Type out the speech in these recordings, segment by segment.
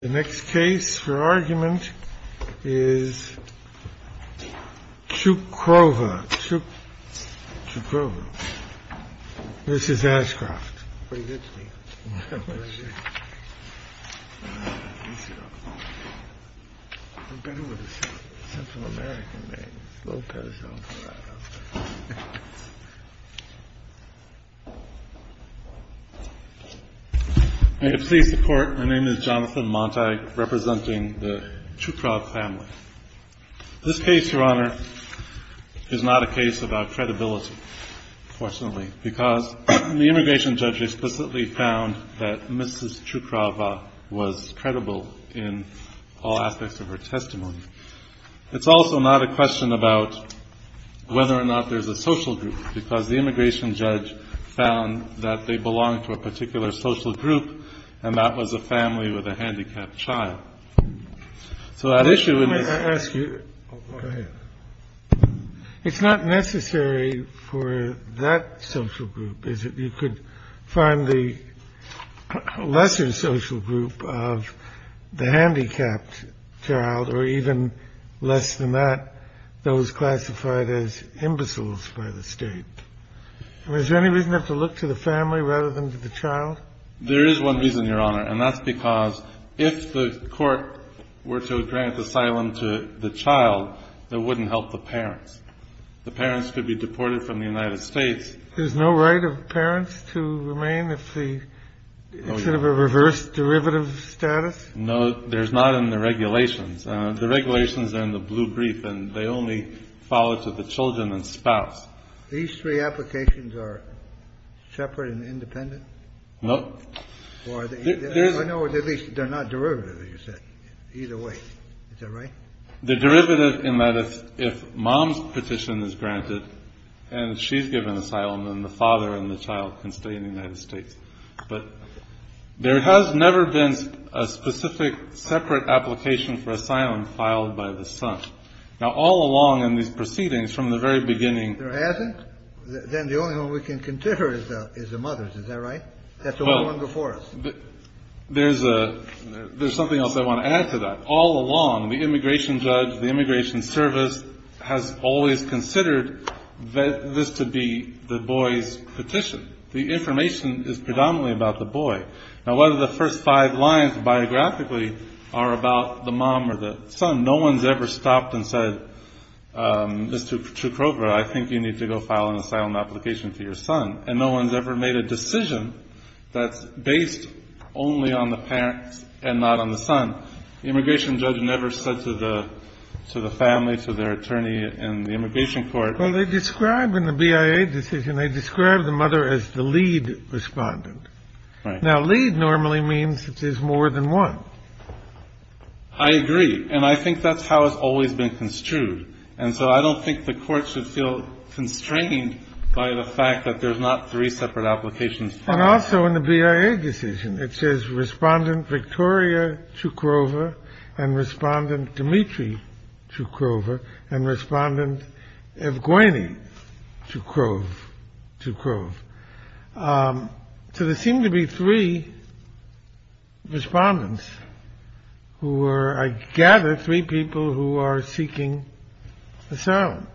The next case for argument is Tchoukhrova v. Ashcroft. My name is Jonathan Montag, representing the Tchoukhrova family. This case, Your Honor, is not a case about credibility, fortunately, because the immigration judge explicitly found that Mrs. Tchoukhrova was credible in all aspects of her testimony. It's also not a question about whether or not there's a social group, because the immigration judge found that they belonged to a particular social group, and that was a family with a handicapped child. So that issue in this case— find the lesser social group of the handicapped child, or even less than that, those classified as imbeciles by the state. And is there any reason to have to look to the family rather than to the child? There is one reason, Your Honor, and that's because if the court were to grant asylum to the child, that wouldn't help the parents. The parents could be deported from the United States. There's no right of parents to remain if the— No, Your Honor. —it's sort of a reverse derivative status? No. There's not in the regulations. The regulations are in the blue brief, and they only follow to the children and spouse. These three applications are separate and independent? No. Or are they— I know at least they're not derivative, as you said, either way. Is that right? The derivative in that if mom's petition is granted and she's given asylum, then the father and the child can stay in the United States. But there has never been a specific separate application for asylum filed by the son. Now, all along in these proceedings, from the very beginning— There hasn't? Then the only one we can consider is the mother's. Is that right? That's the one before us. There's something else I want to add to that. All along, the immigration judge, the immigration service, has always considered this to be the boy's petition. The information is predominantly about the boy. Now, whether the first five lines biographically are about the mom or the son, no one's ever stopped and said, Mr. Kroger, I think you need to go file an asylum application for your son. And no one's ever made a decision that's based only on the parents and not on the son. The immigration judge never said to the family, to their attorney in the immigration court— Well, they describe in the BIA decision, they describe the mother as the lead respondent. Right. Now, lead normally means that there's more than one. I agree. And I think that's how it's always been construed. And so I don't think the Court should feel constrained by the fact that there's not three separate applications. And also in the BIA decision, it says respondent Victoria Chukrova and respondent Dmitry Chukrova and respondent Evgueni Chukrova. So there seem to be three respondents who were, I gather, three people who are seeking asylum.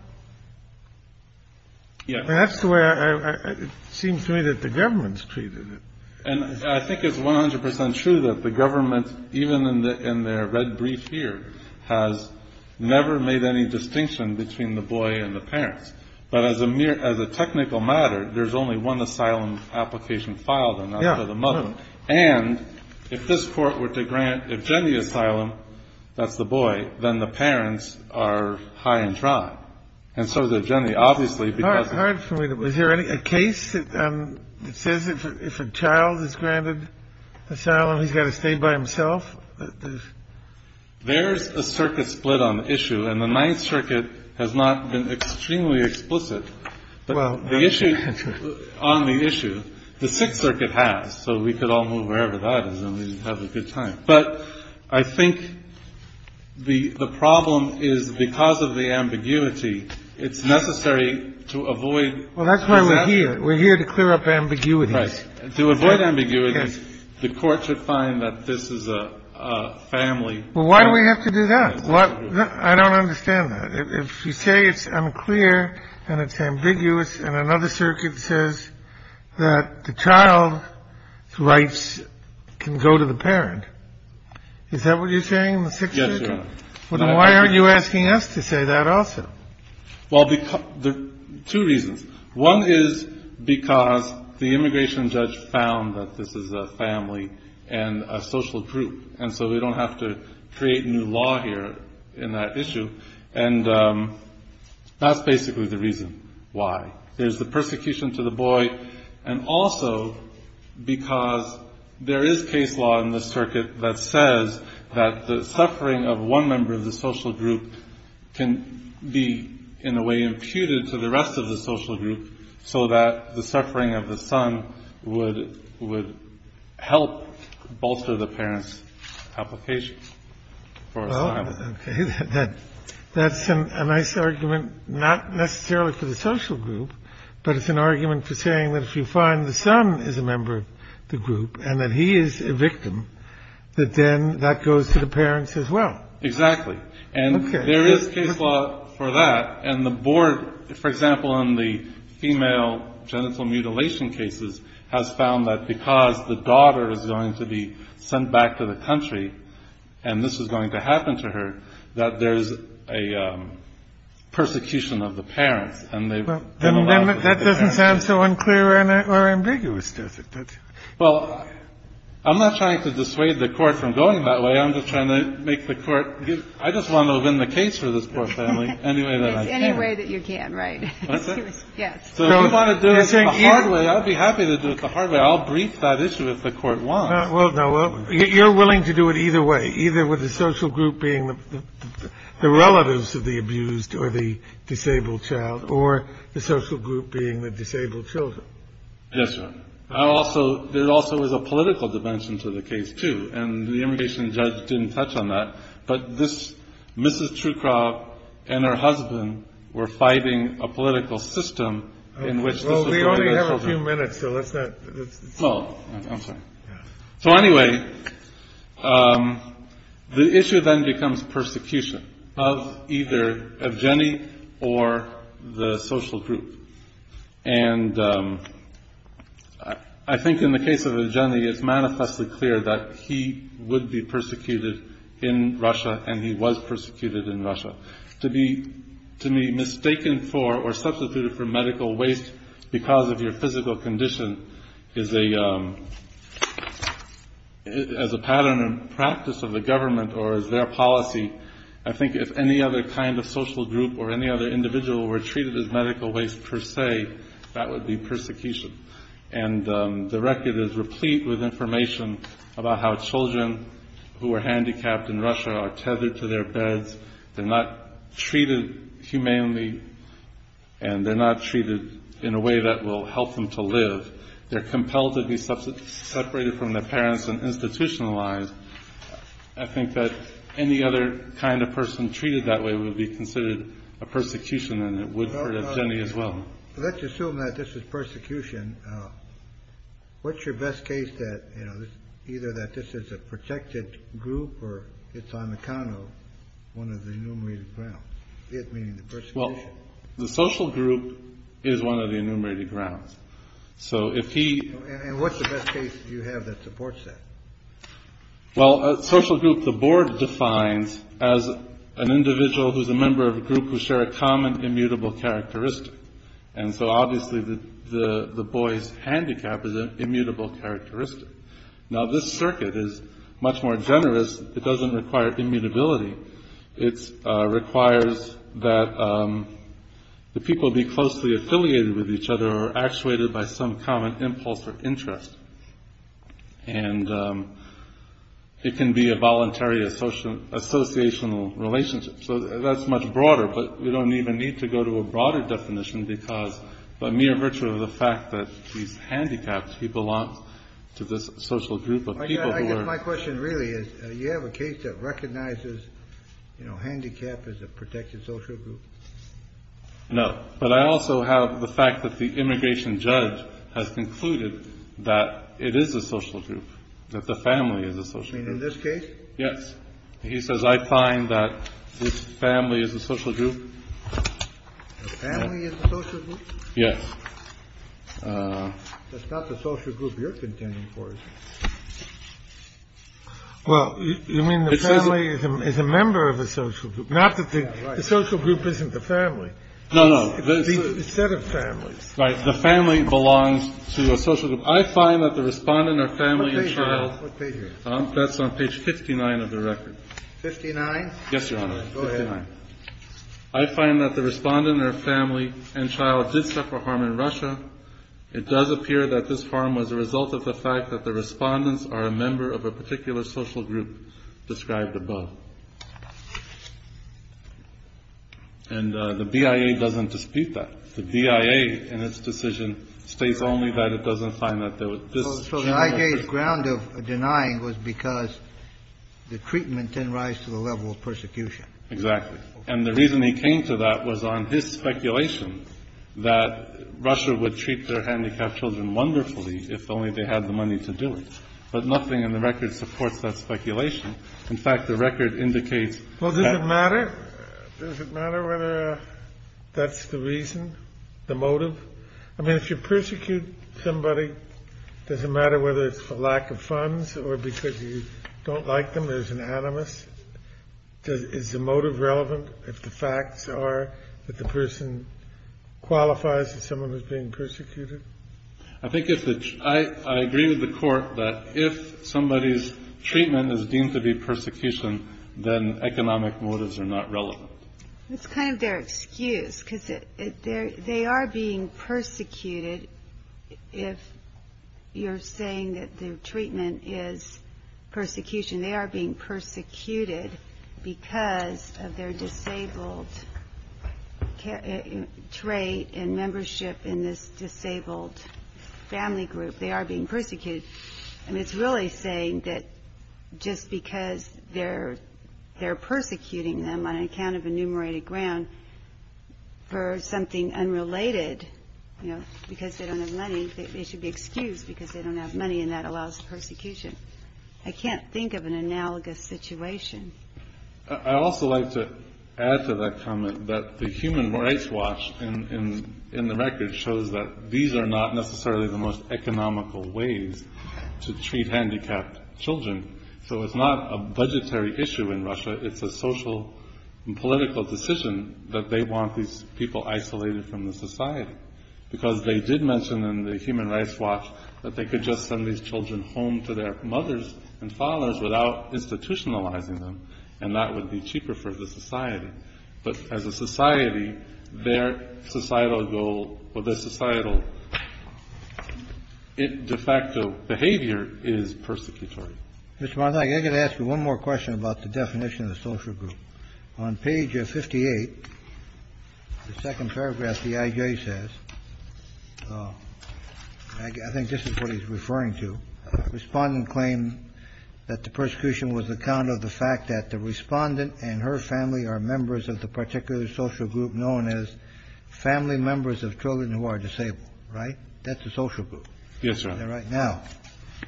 And that's the way it seems to me that the government's treated it. And I think it's 100 percent true that the government, even in their red brief here, has never made any distinction between the boy and the parents. But as a technical matter, there's only one asylum application filed, and that's for the mother. And if this Court were to grant Evgeni asylum, that's the boy, then the parents are high and dry. And so Evgeni, obviously, because... Hard for me to... Is there a case that says if a child is granted asylum, he's got to stay by himself? There's a circuit split on the issue. And the Ninth Circuit has not been extremely explicit on the issue. The Sixth Circuit has. So we could all move wherever that is, and we'd have a good time. But I think the problem is because of the ambiguity, it's necessary to avoid... Well, that's why we're here. We're here to clear up ambiguities. Right. To avoid ambiguities, the Court should find that this is a family... Well, why do we have to do that? I don't understand that. If you say it's unclear and it's ambiguous, and another circuit says that the child's the parent, is that what you're saying in the Sixth Circuit? Yes, Your Honor. Well, then why aren't you asking us to say that also? Well, there are two reasons. One is because the immigration judge found that this is a family and a social group. And so we don't have to create new law here in that issue. And that's basically the reason why. There's the persecution to the boy, and also because there is case law in the circuit that says that the suffering of one member of the social group can be, in a way, imputed to the rest of the social group so that the suffering of the son would help bolster the parent's application for asylum. OK. That's a nice argument, not necessarily for the social group, but it's an argument for saying that if you find the son is a member of the group and that he is a victim, that then that goes to the parents as well. Exactly. And there is case law for that. And the board, for example, on the female genital mutilation cases, has found that because the daughter is going to be sent back to the country and this is going to happen to her, that there's a persecution of the parents. And they've been allowed to stay there. Well, then that doesn't sound so unclear or ambiguous, does it? Well, I'm not trying to dissuade the Court from going that way. I'm just trying to make the Court give – I just want to win the case for this poor family any way that I can. It's any way that you can, right. Excuse me. Yes. So if you want to do it the hard way, I'd be happy to do it the hard way. I'll brief that issue if the Court wants. Well, no, you're willing to do it either way, either with the social group being the relatives of the abused or the disabled child or the social group being the disabled children. Yes, Your Honor. I also – there also was a political dimension to the case, too. And the immigration judge didn't touch on that. But this – Mrs. Truecroft and her husband were fighting a political system in which – Well, we only have a few minutes, so let's not – Oh, I'm sorry. So anyway, the issue then becomes persecution of either Evgeny or the social group. And I think in the case of Evgeny, it's manifestly clear that he would be persecuted in Russia and he was persecuted in Russia. To be mistaken for or substituted for medical waste because of your physical condition is a – as a pattern and practice of the government or as their policy, I think if any other kind of social group or any other individual were treated as medical waste per se, that would be persecution. And the record is replete with information about how children who are handicapped in Russia are tethered to their beds, they're not treated humanely, and they're not treated in a way that will help them to live. They're compelled to be separated from their parents and institutionalized. I think that any other kind of person treated that way would be considered a persecution and it would hurt Evgeny as well. Let's assume that this is persecution. What's your best case that, you know, either that this is a protected group or it's on the count of one of the enumerated grounds? Well, the social group is one of the enumerated grounds. So if he – And what's the best case you have that supports that? Well, a social group the board defines as an individual who's a member of a group who share a common immutable characteristic. And so obviously the boy's handicap is an immutable characteristic. Now this circuit is much more generous. It doesn't require immutability. It requires that the people be closely affiliated with each other or actuated by some common impulse or interest. And it can be a voluntary associational relationship. So that's much broader, but we don't even need to go to a broader definition because by mere virtue of the fact that he's handicapped, he belongs to this social group of people who are – you know, handicapped is a protected social group. No, but I also have the fact that the immigration judge has concluded that it is a social group, that the family is a social group. You mean in this case? Yes. He says, I find that this family is a social group. The family is a social group? Yes. That's not the social group you're contending for, is it? Well, you mean the family is a member of a social group? Not that the social group isn't the family. No, no. Instead of families. Right. The family belongs to a social group. I find that the respondent or family and child – What page are you on? That's on page 59 of the record. 59? Yes, Your Honor. Go ahead. I find that the respondent or family and child did suffer harm in Russia. It does appear that this harm was a result of the fact that the respondents are a member of a particular social group described above. And the BIA doesn't dispute that. The BIA, in its decision, states only that it doesn't find that there was – So the IJ's ground of denying was because the treatment didn't rise to the level of persecution. Exactly. And the reason he came to that was on his speculation that Russia would treat their handicapped children wonderfully if only they had the money to do it. But nothing in the record supports that speculation. In fact, the record indicates – Well, does it matter? Does it matter whether that's the reason, the motive? I mean, if you persecute somebody, does it matter whether it's for lack of funds or because you don't like them or there's an animus? Is the motive relevant if the facts are that the person qualifies as someone who's being persecuted? I think if the – I agree with the Court that if somebody's treatment is deemed to be persecution, then economic motives are not relevant. It's kind of their excuse because they are being persecuted if you're saying that their treatment is persecution. They are being persecuted because of their disabled trait and membership in this disabled family group. They are being persecuted. And it's really saying that just because they're persecuting them on account of enumerated ground for something unrelated, you know, because they don't have money, they should be excused because they don't have money and that allows persecution. I can't think of an analogous situation. I'd also like to add to that comment that the Human Rights Watch in the record shows that these are not necessarily the most economical ways to treat handicapped children. So it's not a budgetary issue in Russia. It's a social and political decision that they want these people isolated from the society because they did mention in the Human Rights Watch that they could just send these children home to their mothers and fathers without institutionalizing them and that would be cheaper for the society. But as a society, their societal goal or their societal de facto behavior is persecutory. Mr. Montague, I've got to ask you one more question about the definition of the social group. On page 58, the second paragraph, the IJ says, I think this is what he's referring to, respondent claims that the persecution was on account of the fact that the respondent and her family are members of the particular social group known as family members of children who are disabled, right? That's a social group. Yes, sir. Now,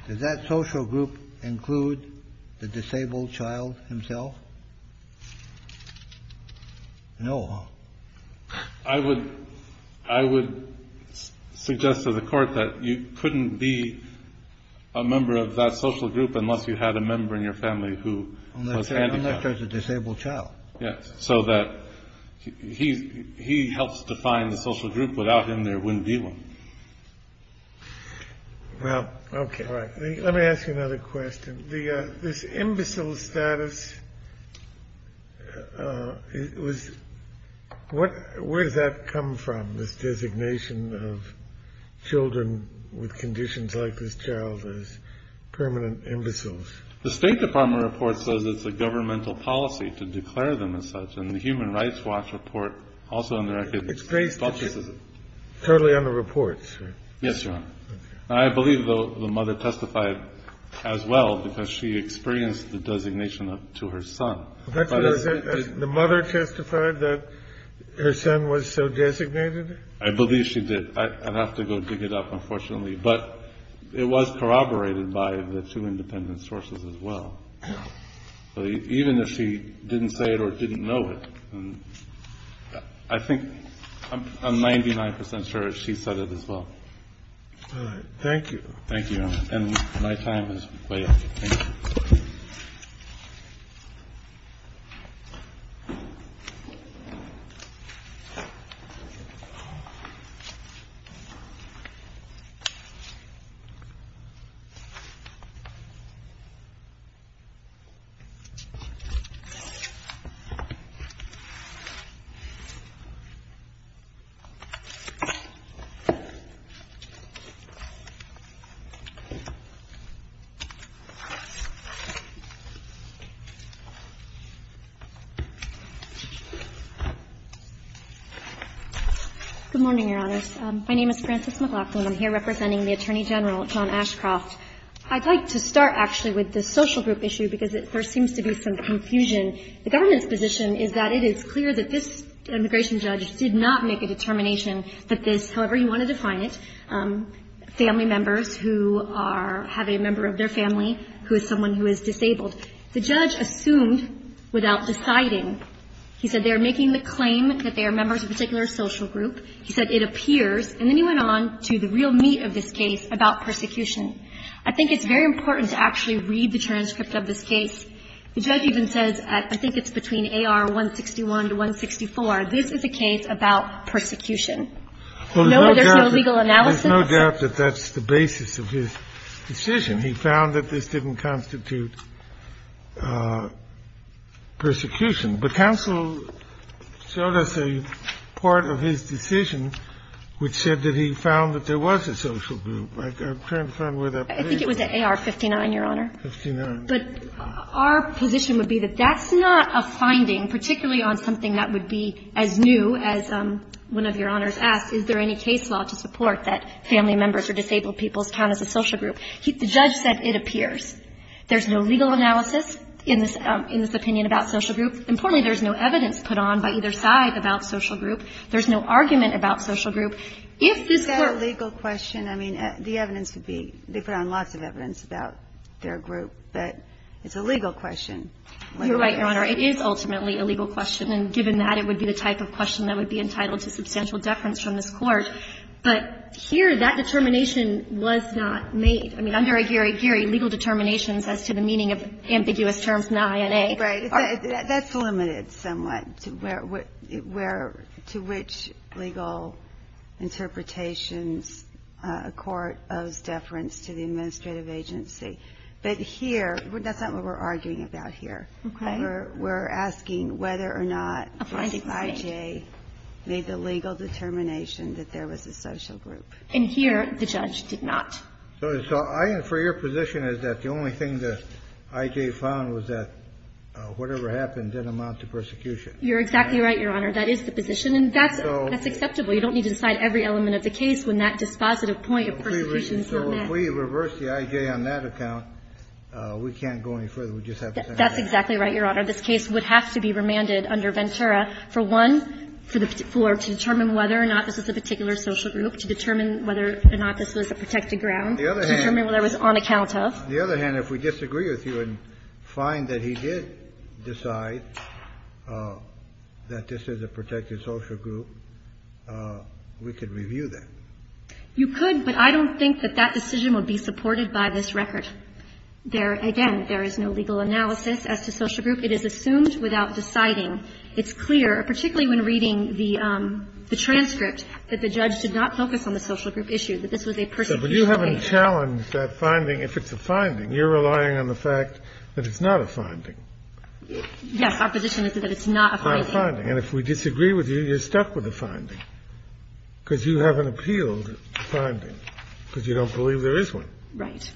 does that social group include the disabled child himself? No. I would suggest to the court that you couldn't be a member of that social group unless you had a member in your family who was handicapped. Unless there's a disabled child. Yes, so that he helps define the social group. Without him, there wouldn't be one. Well, okay. All right. Let me ask you another question. This imbecile status, where does that come from, this designation of children with conditions like this child as permanent imbeciles? The State Department report says it's a governmental policy to declare them as such, and the Human Rights Watch report also under- It's based totally on the reports, right? Yes, Your Honor. I believe the mother testified as well because she experienced the designation to her son. The mother testified that her son was so designated? I believe she did. I'd have to go dig it up, unfortunately. But it was corroborated by the two independent sources as well. Even if she didn't say it or didn't know it, I think I'm 99% sure she said it as well. All right. Thank you. Thank you, Your Honor. And my time has played. Thank you. Good morning, Your Honors. My name is Frances McLaughlin. I'm here representing the Attorney General, John Ashcroft. I'd like to start, actually, with the social group issue because there seems to be some confusion. The government's position is that it is clear that this immigration judge did not make a determination that this, however you want to define it, family members who have a member of their family who is someone who is disabled. The judge assumed without deciding. He said they are making the claim that they are members of a particular social group. He said it appears, and then he went on to the real meat of this case about persecution. I think it's very important to actually read the transcript of this case. The judge even says, I think it's between AR 161 to 164, this is a case about persecution. No, there's no legal analysis. There's no doubt that that's the basis of his decision. He found that this didn't constitute persecution. But counsel showed us a part of his decision which said that he found that there was a social group. I'm trying to find where that place is. I think it was AR 59, Your Honor. 59. But our position would be that that's not a finding, particularly on something that would be as new as one of Your Honors asked. Is there any case law to support that family members or disabled people count as a social group? The judge said it appears. There's no legal analysis in this opinion about social group. Importantly, there's no evidence put on by either side about social group. There's no argument about social group. If this court ---- It's a legal question. You're right, Your Honor. It is ultimately a legal question. And given that, it would be the type of question that would be entitled to substantial deference from this Court. But here, that determination was not made. I mean, under Aguirre-Guerri, legal determinations as to the meaning of ambiguous terms, NAI and A. Right. That's limited somewhat to where to which legal interpretations a court owes deference to the administrative agency. But here, that's not what we're arguing about here. Okay. We're asking whether or not I.J. made the legal determination that there was a social group. And here, the judge did not. So I infer your position is that the only thing that I.J. found was that whatever happened didn't amount to persecution. You're exactly right, Your Honor. That is the position. And that's acceptable. point of persecution is not met. So if we reverse the I.J. on that account, we can't go any further. We just have to send it back. That's exactly right, Your Honor. This case would have to be remanded under Ventura for one, for the floor, to determine whether or not this was a particular social group, to determine whether or not this was a protected ground. The other hand. To determine whether it was on account of. The other hand, if we disagree with you and find that he did decide that this is a protected social group, we could review that. You could, but I don't think that that decision would be supported by this record. There, again, there is no legal analysis as to social group. It is assumed without deciding. It's clear, particularly when reading the transcript, that the judge did not focus on the social group issue, that this was a persecution case. But you haven't challenged that finding. If it's a finding, you're relying on the fact that it's not a finding. Yes. Our position is that it's not a finding. Not a finding. And if we disagree with you, you're stuck with the finding. Because you haven't appealed the finding, because you don't believe there is one. Right.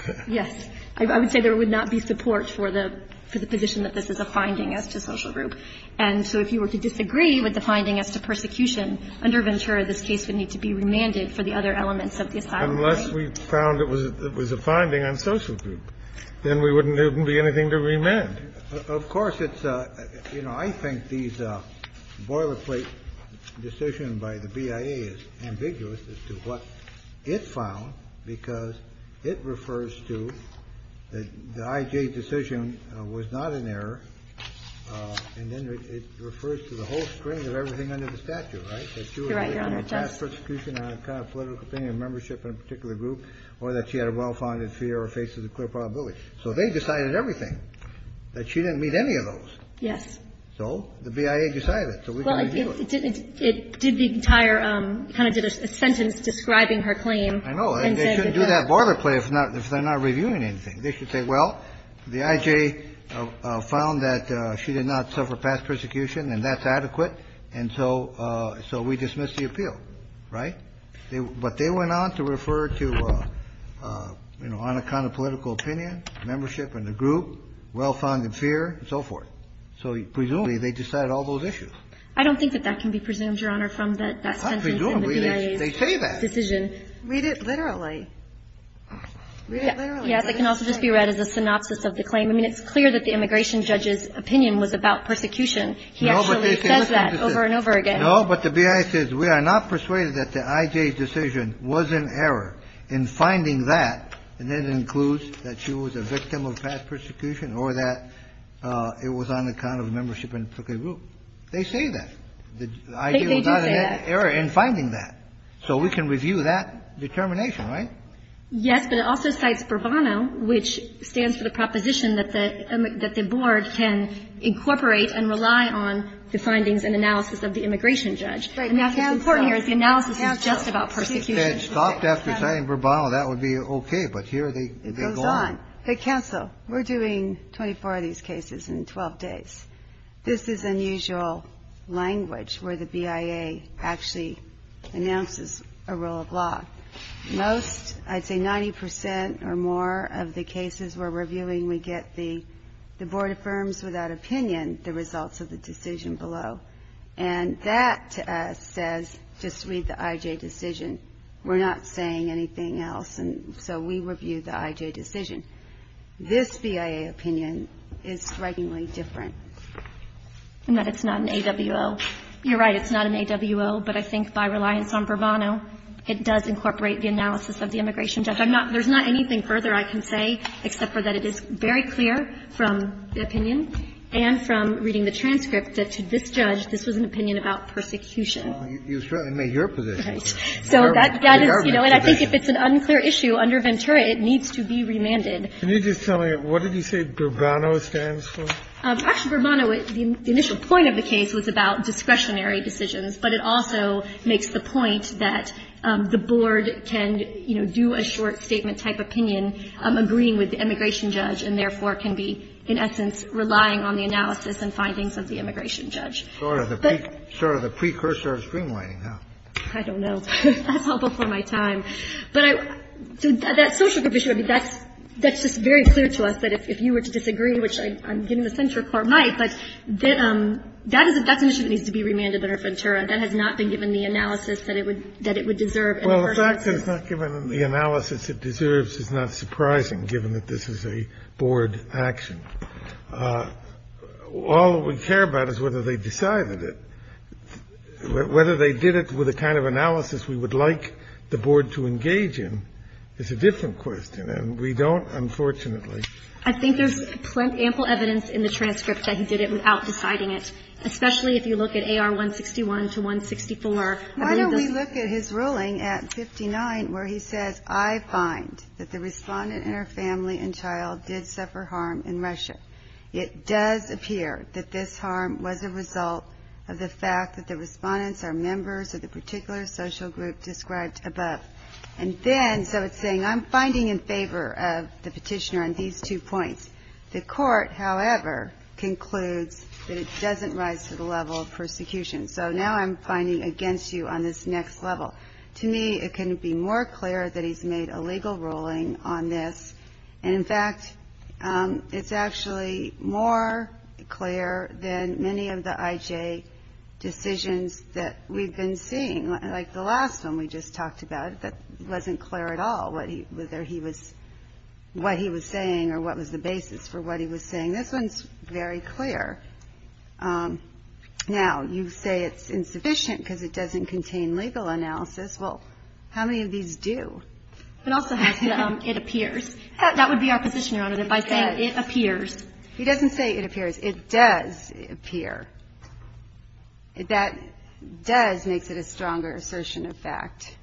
Okay. Yes. I would say there would not be support for the position that this is a finding as to social group. And so if you were to disagree with the finding as to persecution, under Ventura, this case would need to be remanded for the other elements of the asylum claim. Unless we found it was a finding on social group. Then there wouldn't be anything to remand. Of course, it's a, you know, I think these boilerplate decision by the BIA is ambiguous as to what it found, because it refers to the I.J. decision was not an error. And then it refers to the whole string of everything under the statute, right? You're right, Your Honor, it does. That she was a fast persecution on a kind of political thing, a membership in a particular group, or that she had a well-founded fear or faces a clear probability. So they decided everything. That she didn't meet any of those. Yes. So the BIA decided it. So we can review it. It did the entire, kind of did a sentence describing her claim. I know. And they shouldn't do that boilerplate if they're not reviewing anything. They should say, well, the I.J. found that she did not suffer past persecution, and that's adequate. And so we dismiss the appeal, right? But they went on to refer to, you know, on a kind of political opinion, membership in a group, well-founded fear, and so forth. So presumably, they decided all those issues. I don't think that that can be presumed, Your Honor, from that sentence in the BIA's decision. Presumably, they say that. Read it literally. Read it literally. Yes, it can also just be read as a synopsis of the claim. I mean, it's clear that the immigration judge's opinion was about persecution. He actually says that over and over again. No, but the BIA says we are not persuaded that the I.J. decision was an error in finding that, and that includes that she was a victim of past persecution or that it was on account of membership in a particular group. They say that. The I.J. was not an error in finding that. So we can review that determination, right? Yes, but it also cites Burbano, which stands for the proposition that the board can incorporate and rely on the findings and analysis of the immigration judge. And that's what's important here is the analysis is just about persecution. If they had stopped after saying Burbano, that would be okay, but here they go on. It goes on. Hey, counsel, we're doing 24 of these cases in 12 days. This is unusual language where the BIA actually announces a rule of law. Most, I'd say 90 percent or more of the cases we're reviewing, we get the board affirms without opinion the results of the decision below. And that says just read the I.J. decision. We're not saying anything else, and so we review the I.J. decision. This BIA opinion is strikingly different. And that it's not an AWO. You're right. It's not an AWO, but I think by reliance on Burbano, it does incorporate the analysis of the immigration judge. I'm not – there's not anything further I can say except for that it is very clear from the opinion and from reading the transcript that to this judge, this was an opinion about persecution. You certainly made your position. So that is, you know, and I think if it's an unclear issue under Ventura, it needs to be remanded. Can you just tell me what did you say Burbano stands for? Actually, Burbano, the initial point of the case was about discretionary decisions, but it also makes the point that the board can, you know, do a short statement type opinion, agreeing with the immigration judge, and therefore can be, in essence, relying on the analysis and findings of the immigration judge. Sort of the precursor of streamlining, huh? I don't know. That's all before my time. But I – that social provision, I mean, that's just very clear to us that if you were to disagree, which I'm getting the sense your Court might, but that's an issue that needs to be remanded under Ventura. That has not been given the analysis that it would deserve. Well, the fact that it's not given the analysis it deserves is not surprising, given that this is a board action. All we care about is whether they decided it. Whether they did it with the kind of analysis we would like the board to engage in is a different question, and we don't, unfortunately. I think there's ample evidence in the transcript that he did it without deciding it, especially if you look at AR 161 to 164. Why don't we look at his ruling at 59 where he says, I find that the respondent and her family and child did suffer harm in Russia. It does appear that this harm was a result of the fact that the respondents are members of the particular social group described above. And then, so it's saying I'm finding in favor of the petitioner on these two points. The Court, however, concludes that it doesn't rise to the level of persecution. So now I'm finding against you on this next level. To me, it can be more clear that he's made a legal ruling on this. And, in fact, it's actually more clear than many of the IJ decisions that we've been seeing. Like the last one we just talked about, that wasn't clear at all whether he was what he was saying or what was the basis for what he was saying. This one's very clear. Now, you say it's insufficient because it doesn't contain legal analysis. Well, how many of these do? It also has the it appears. That would be our position, Your Honor, that by saying it appears. He doesn't say it appears. It does appear. That does makes it a stronger assertion of fact.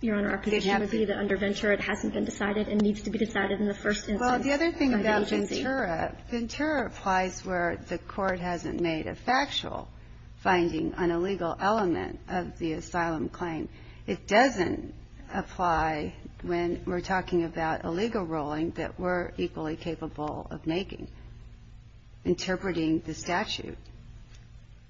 Your Honor, our position would be that under Ventura it hasn't been decided and needs to be decided in the first instance by the agency. Ventura applies where the court hasn't made a factual finding on a legal element of the asylum claim. It doesn't apply when we're talking about a legal ruling that we're equally capable of making, interpreting the statute.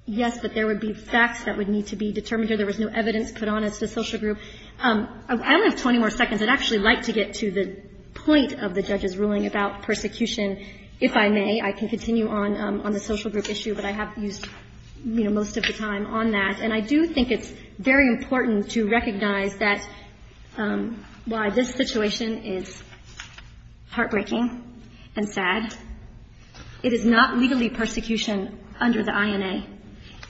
Yes, but there would be facts that would need to be determined. There was no evidence put on us, the social group. I only have 20 more seconds. I'd actually like to get to the point of the judge's ruling about persecution. If I may, I can continue on the social group issue, but I have used, you know, most of the time on that. And I do think it's very important to recognize that while this situation is heartbreaking and sad, it is not legally persecution under the INA.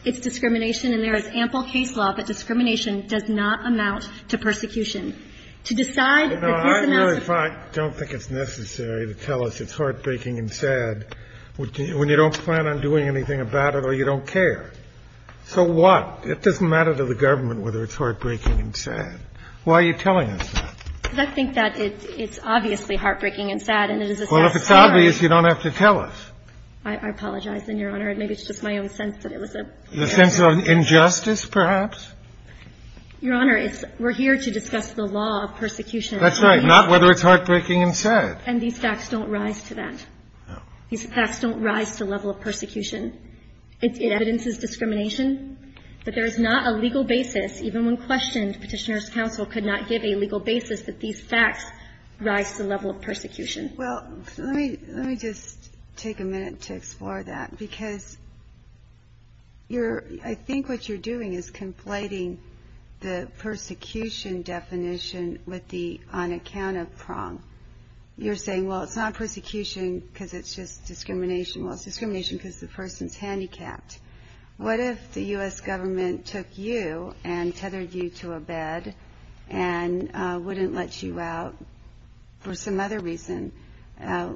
It's discrimination, and there is ample case law, but discrimination does not amount to persecution. To decide that this amounts to persecution. I don't think it's necessary to tell us it's heartbreaking and sad when you don't plan on doing anything about it or you don't care. So what? It doesn't matter to the government whether it's heartbreaking and sad. Why are you telling us that? Because I think that it's obviously heartbreaking and sad, and it is a sad story. Well, if it's obvious, you don't have to tell us. I apologize, Your Honor. Maybe it's just my own sense that it was a bad story. The sense of injustice, perhaps? Your Honor, we're here to discuss the law of persecution. That's right. Not whether it's heartbreaking and sad. And these facts don't rise to that. No. These facts don't rise to the level of persecution. It evidences discrimination, but there is not a legal basis, even when questioned, Petitioner's counsel could not give a legal basis that these facts rise to the level of persecution. Well, let me just take a minute to explore that. Because I think what you're doing is conflating the persecution definition with the on account of prong. You're saying, well, it's not persecution because it's just discrimination. Well, it's discrimination because the person's handicapped. What if the U.S. government took you and tethered you to a bed and wouldn't let you out for some other reason,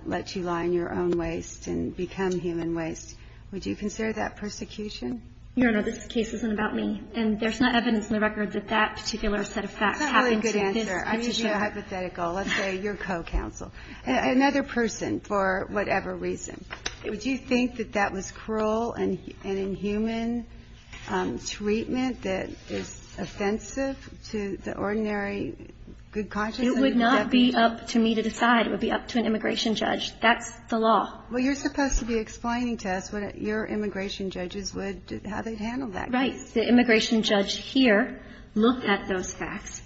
let you lie in your own waste and become human waste? Would you consider that persecution? Your Honor, this case isn't about me. And there's not evidence in the records that that particular set of facts happened to this petitioner. That's a really good answer. I mean, you're hypothetical. Let's say you're co-counsel. Another person, for whatever reason. Would you think that that was cruel and inhuman treatment that is offensive to the ordinary good conscience? It would not be up to me to decide. It would be up to an immigration judge. That's the law. Well, you're supposed to be explaining to us what your immigration judges would do, how they'd handle that case. Right. The immigration judge here looked at those facts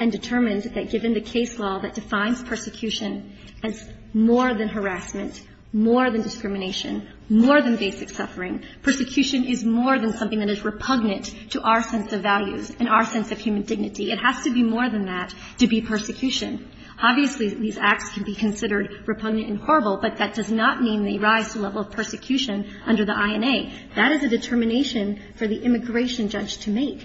and determined that given the case law that defines persecution as more than harassment, more than discrimination, more than basic suffering, persecution is more than something that is repugnant to our sense of values and our sense of human dignity. It has to be more than that to be persecution. Obviously, these acts can be considered repugnant and horrible, but that does not mean they rise to the level of persecution under the INA. That is a determination for the immigration judge to make.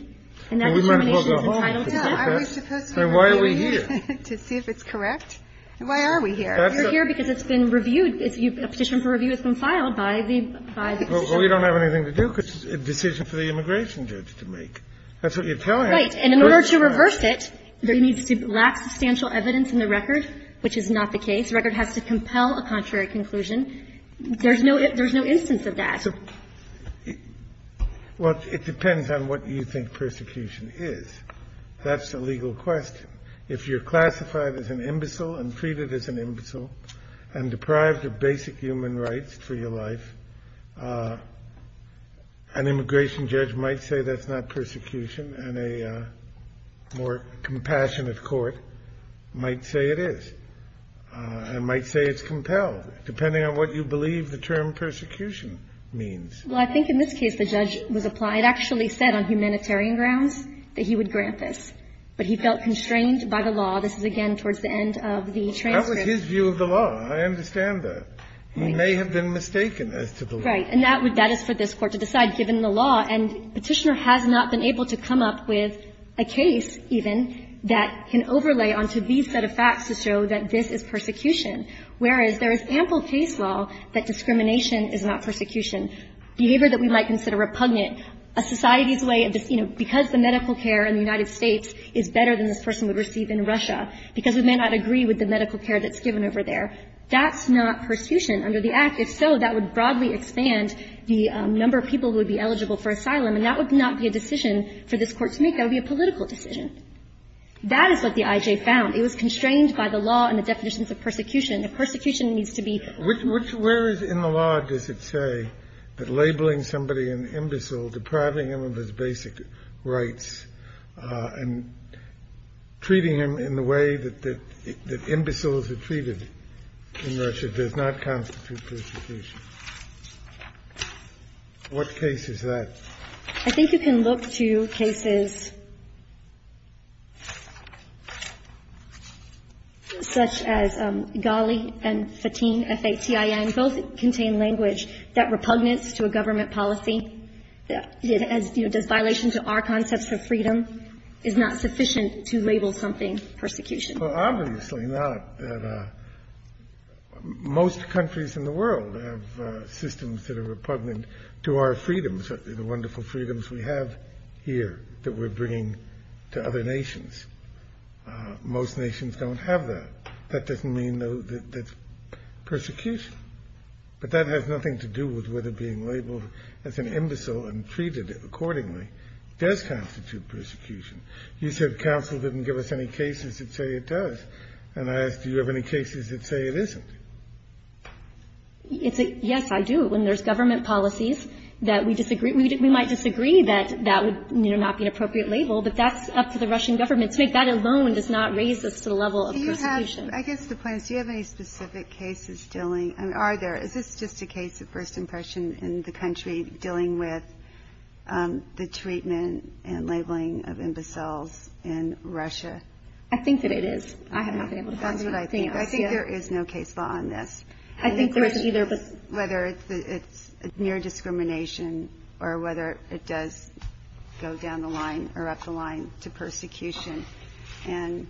And that determination is the final decision. Why are we here? To see if it's correct? Why are we here? You're here because it's been reviewed. A petition for review has been filed by the position. Well, we don't have anything to do because it's a decision for the immigration judge to make. That's what you're telling us. Right. And in order to reverse it, there needs to be lack of substantial evidence in the record, which is not the case. The record has to compel a contrary conclusion. There's no instance of that. Well, it depends on what you think persecution is. That's a legal question. If you're classified as an imbecile and treated as an imbecile and deprived of basic human rights for your life, an immigration judge might say that's not persecution. And a more compassionate court might say it is and might say it's compelled, depending on what you believe the term persecution means. Well, I think in this case the judge was applied. It actually said on humanitarian grounds that he would grant this. But he felt constrained by the law. This is, again, towards the end of the transcript. That was his view of the law. I understand that. He may have been mistaken as to the law. Right. And that is for this Court to decide, given the law. And Petitioner has not been able to come up with a case, even, that can overlay onto these set of facts to show that this is persecution, whereas there is ample case law that discrimination is not persecution. Behavior that we might consider repugnant, a society's way of, you know, because the medical care in the United States is better than this person would receive in Russia, because we may not agree with the medical care that's given over there, that's not persecution under the Act. If so, that would broadly expand the number of people who would be eligible for asylum, and that would not be a decision for this Court to make. That would be a political decision. That is what the IJ found. It was constrained by the law and the definitions of persecution. Persecution needs to be ---- Where is in the law, does it say, that labeling somebody an imbecile, depriving him of his basic rights, and treating him in the way that imbeciles are treated in Russia does not constitute persecution? What case is that? I think you can look to cases such as Ghali and Fatin, F-A-T-I-N. Both contain language that repugnance to a government policy, you know, does violation to our concepts of freedom is not sufficient to label something persecution. Well, obviously not. Most countries in the world have systems that are repugnant to our freedoms. The wonderful freedoms we have here that we're bringing to other nations. Most nations don't have that. That doesn't mean, though, that it's persecution. But that has nothing to do with whether being labeled as an imbecile and treated accordingly does constitute persecution. You said counsel didn't give us any cases that say it does. And I asked, do you have any cases that say it isn't? Yes, I do. When there's government policies that we disagree, we might disagree that that would, you know, not be an appropriate label, but that's up to the Russian government. To me, that alone does not raise us to the level of persecution. I guess the point is, do you have any specific cases dealing, I mean, are there? Is this just a case of first impression in the country dealing with the treatment and labeling of imbeciles in Russia? I think that it is. I have not been able to find it. But I think there is no case law on this, whether it's near discrimination or whether it does go down the line or up the line to persecution. And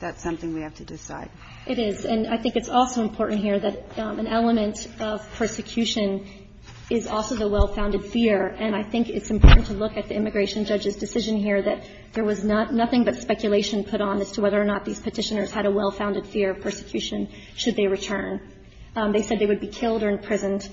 that's something we have to decide. It is. And I think it's also important here that an element of persecution is also the well-founded fear. And I think it's important to look at the immigration judge's decision here that there was nothing but speculation put on as to whether or not these Petitioners had a well-founded fear of persecution should they return. They said they would be killed or imprisoned.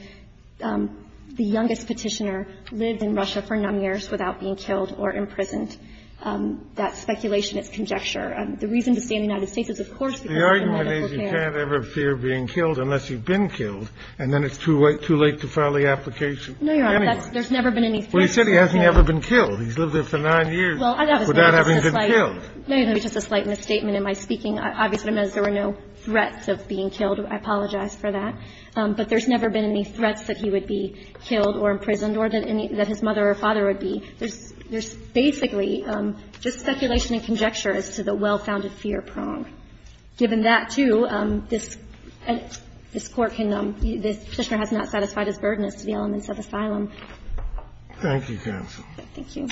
The youngest Petitioner lived in Russia for nine years without being killed or imprisoned. That speculation is conjecture. The reason to stay in the United States is, of course, because of the medical care. The argument is you can't ever fear being killed unless you've been killed, and then it's too late to file the application. No, Your Honor. There's never been any fear of being killed. Well, you said he hasn't ever been killed. He's lived there for nine years without having been killed. Without having been killed. No, Your Honor. Just a slight misstatement in my speaking. Obviously, there were no threats of being killed. I apologize for that. But there's never been any threats that he would be killed or imprisoned or that his mother or father would be. There's basically just speculation and conjecture as to the well-founded fear prong. Given that, too, this Court can be – this Petitioner has not satisfied his burden as to the elements of asylum. Thank you, counsel. Thank you.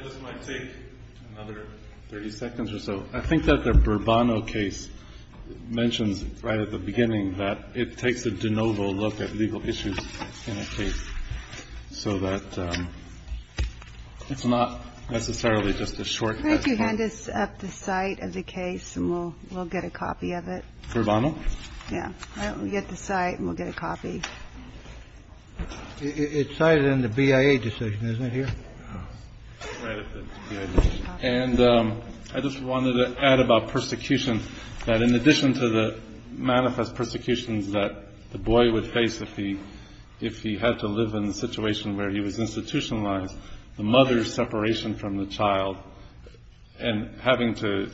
I just might take another 30 seconds or so. I think that the Bourbono case mentions right at the beginning that it takes a de novo look at legal issues in a case so that it's not necessarily just a short question. Could you hand us up the site of the case and we'll get a copy of it? Bourbono? Yeah. We'll get the site and we'll get a copy. It's cited in the BIA decision, isn't it, here? Right at the BIA decision. And I just wanted to add about persecution, that in addition to the manifest persecutions that the boy would face if he had to live in a situation where he was institutionalized, the mother's separation from the child and having to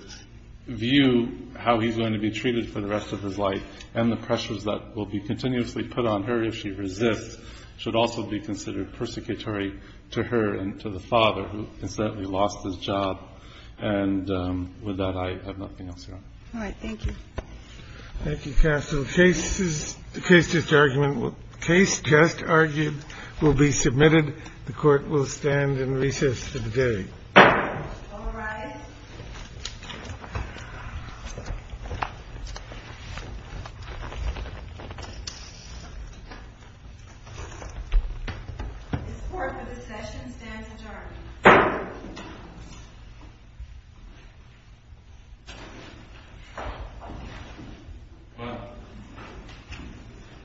view how he's going to be treated for the rest of his life and the pressures that will be continuously put on her if she resists should also be considered persecutory to her and to the father who incidentally lost his job. And with that, I have nothing else, Your Honor. All right. Thank you. Thank you, counsel. The case just argued will be submitted. The court will stand and recess to the day. All rise. This court for this session stands adjourned.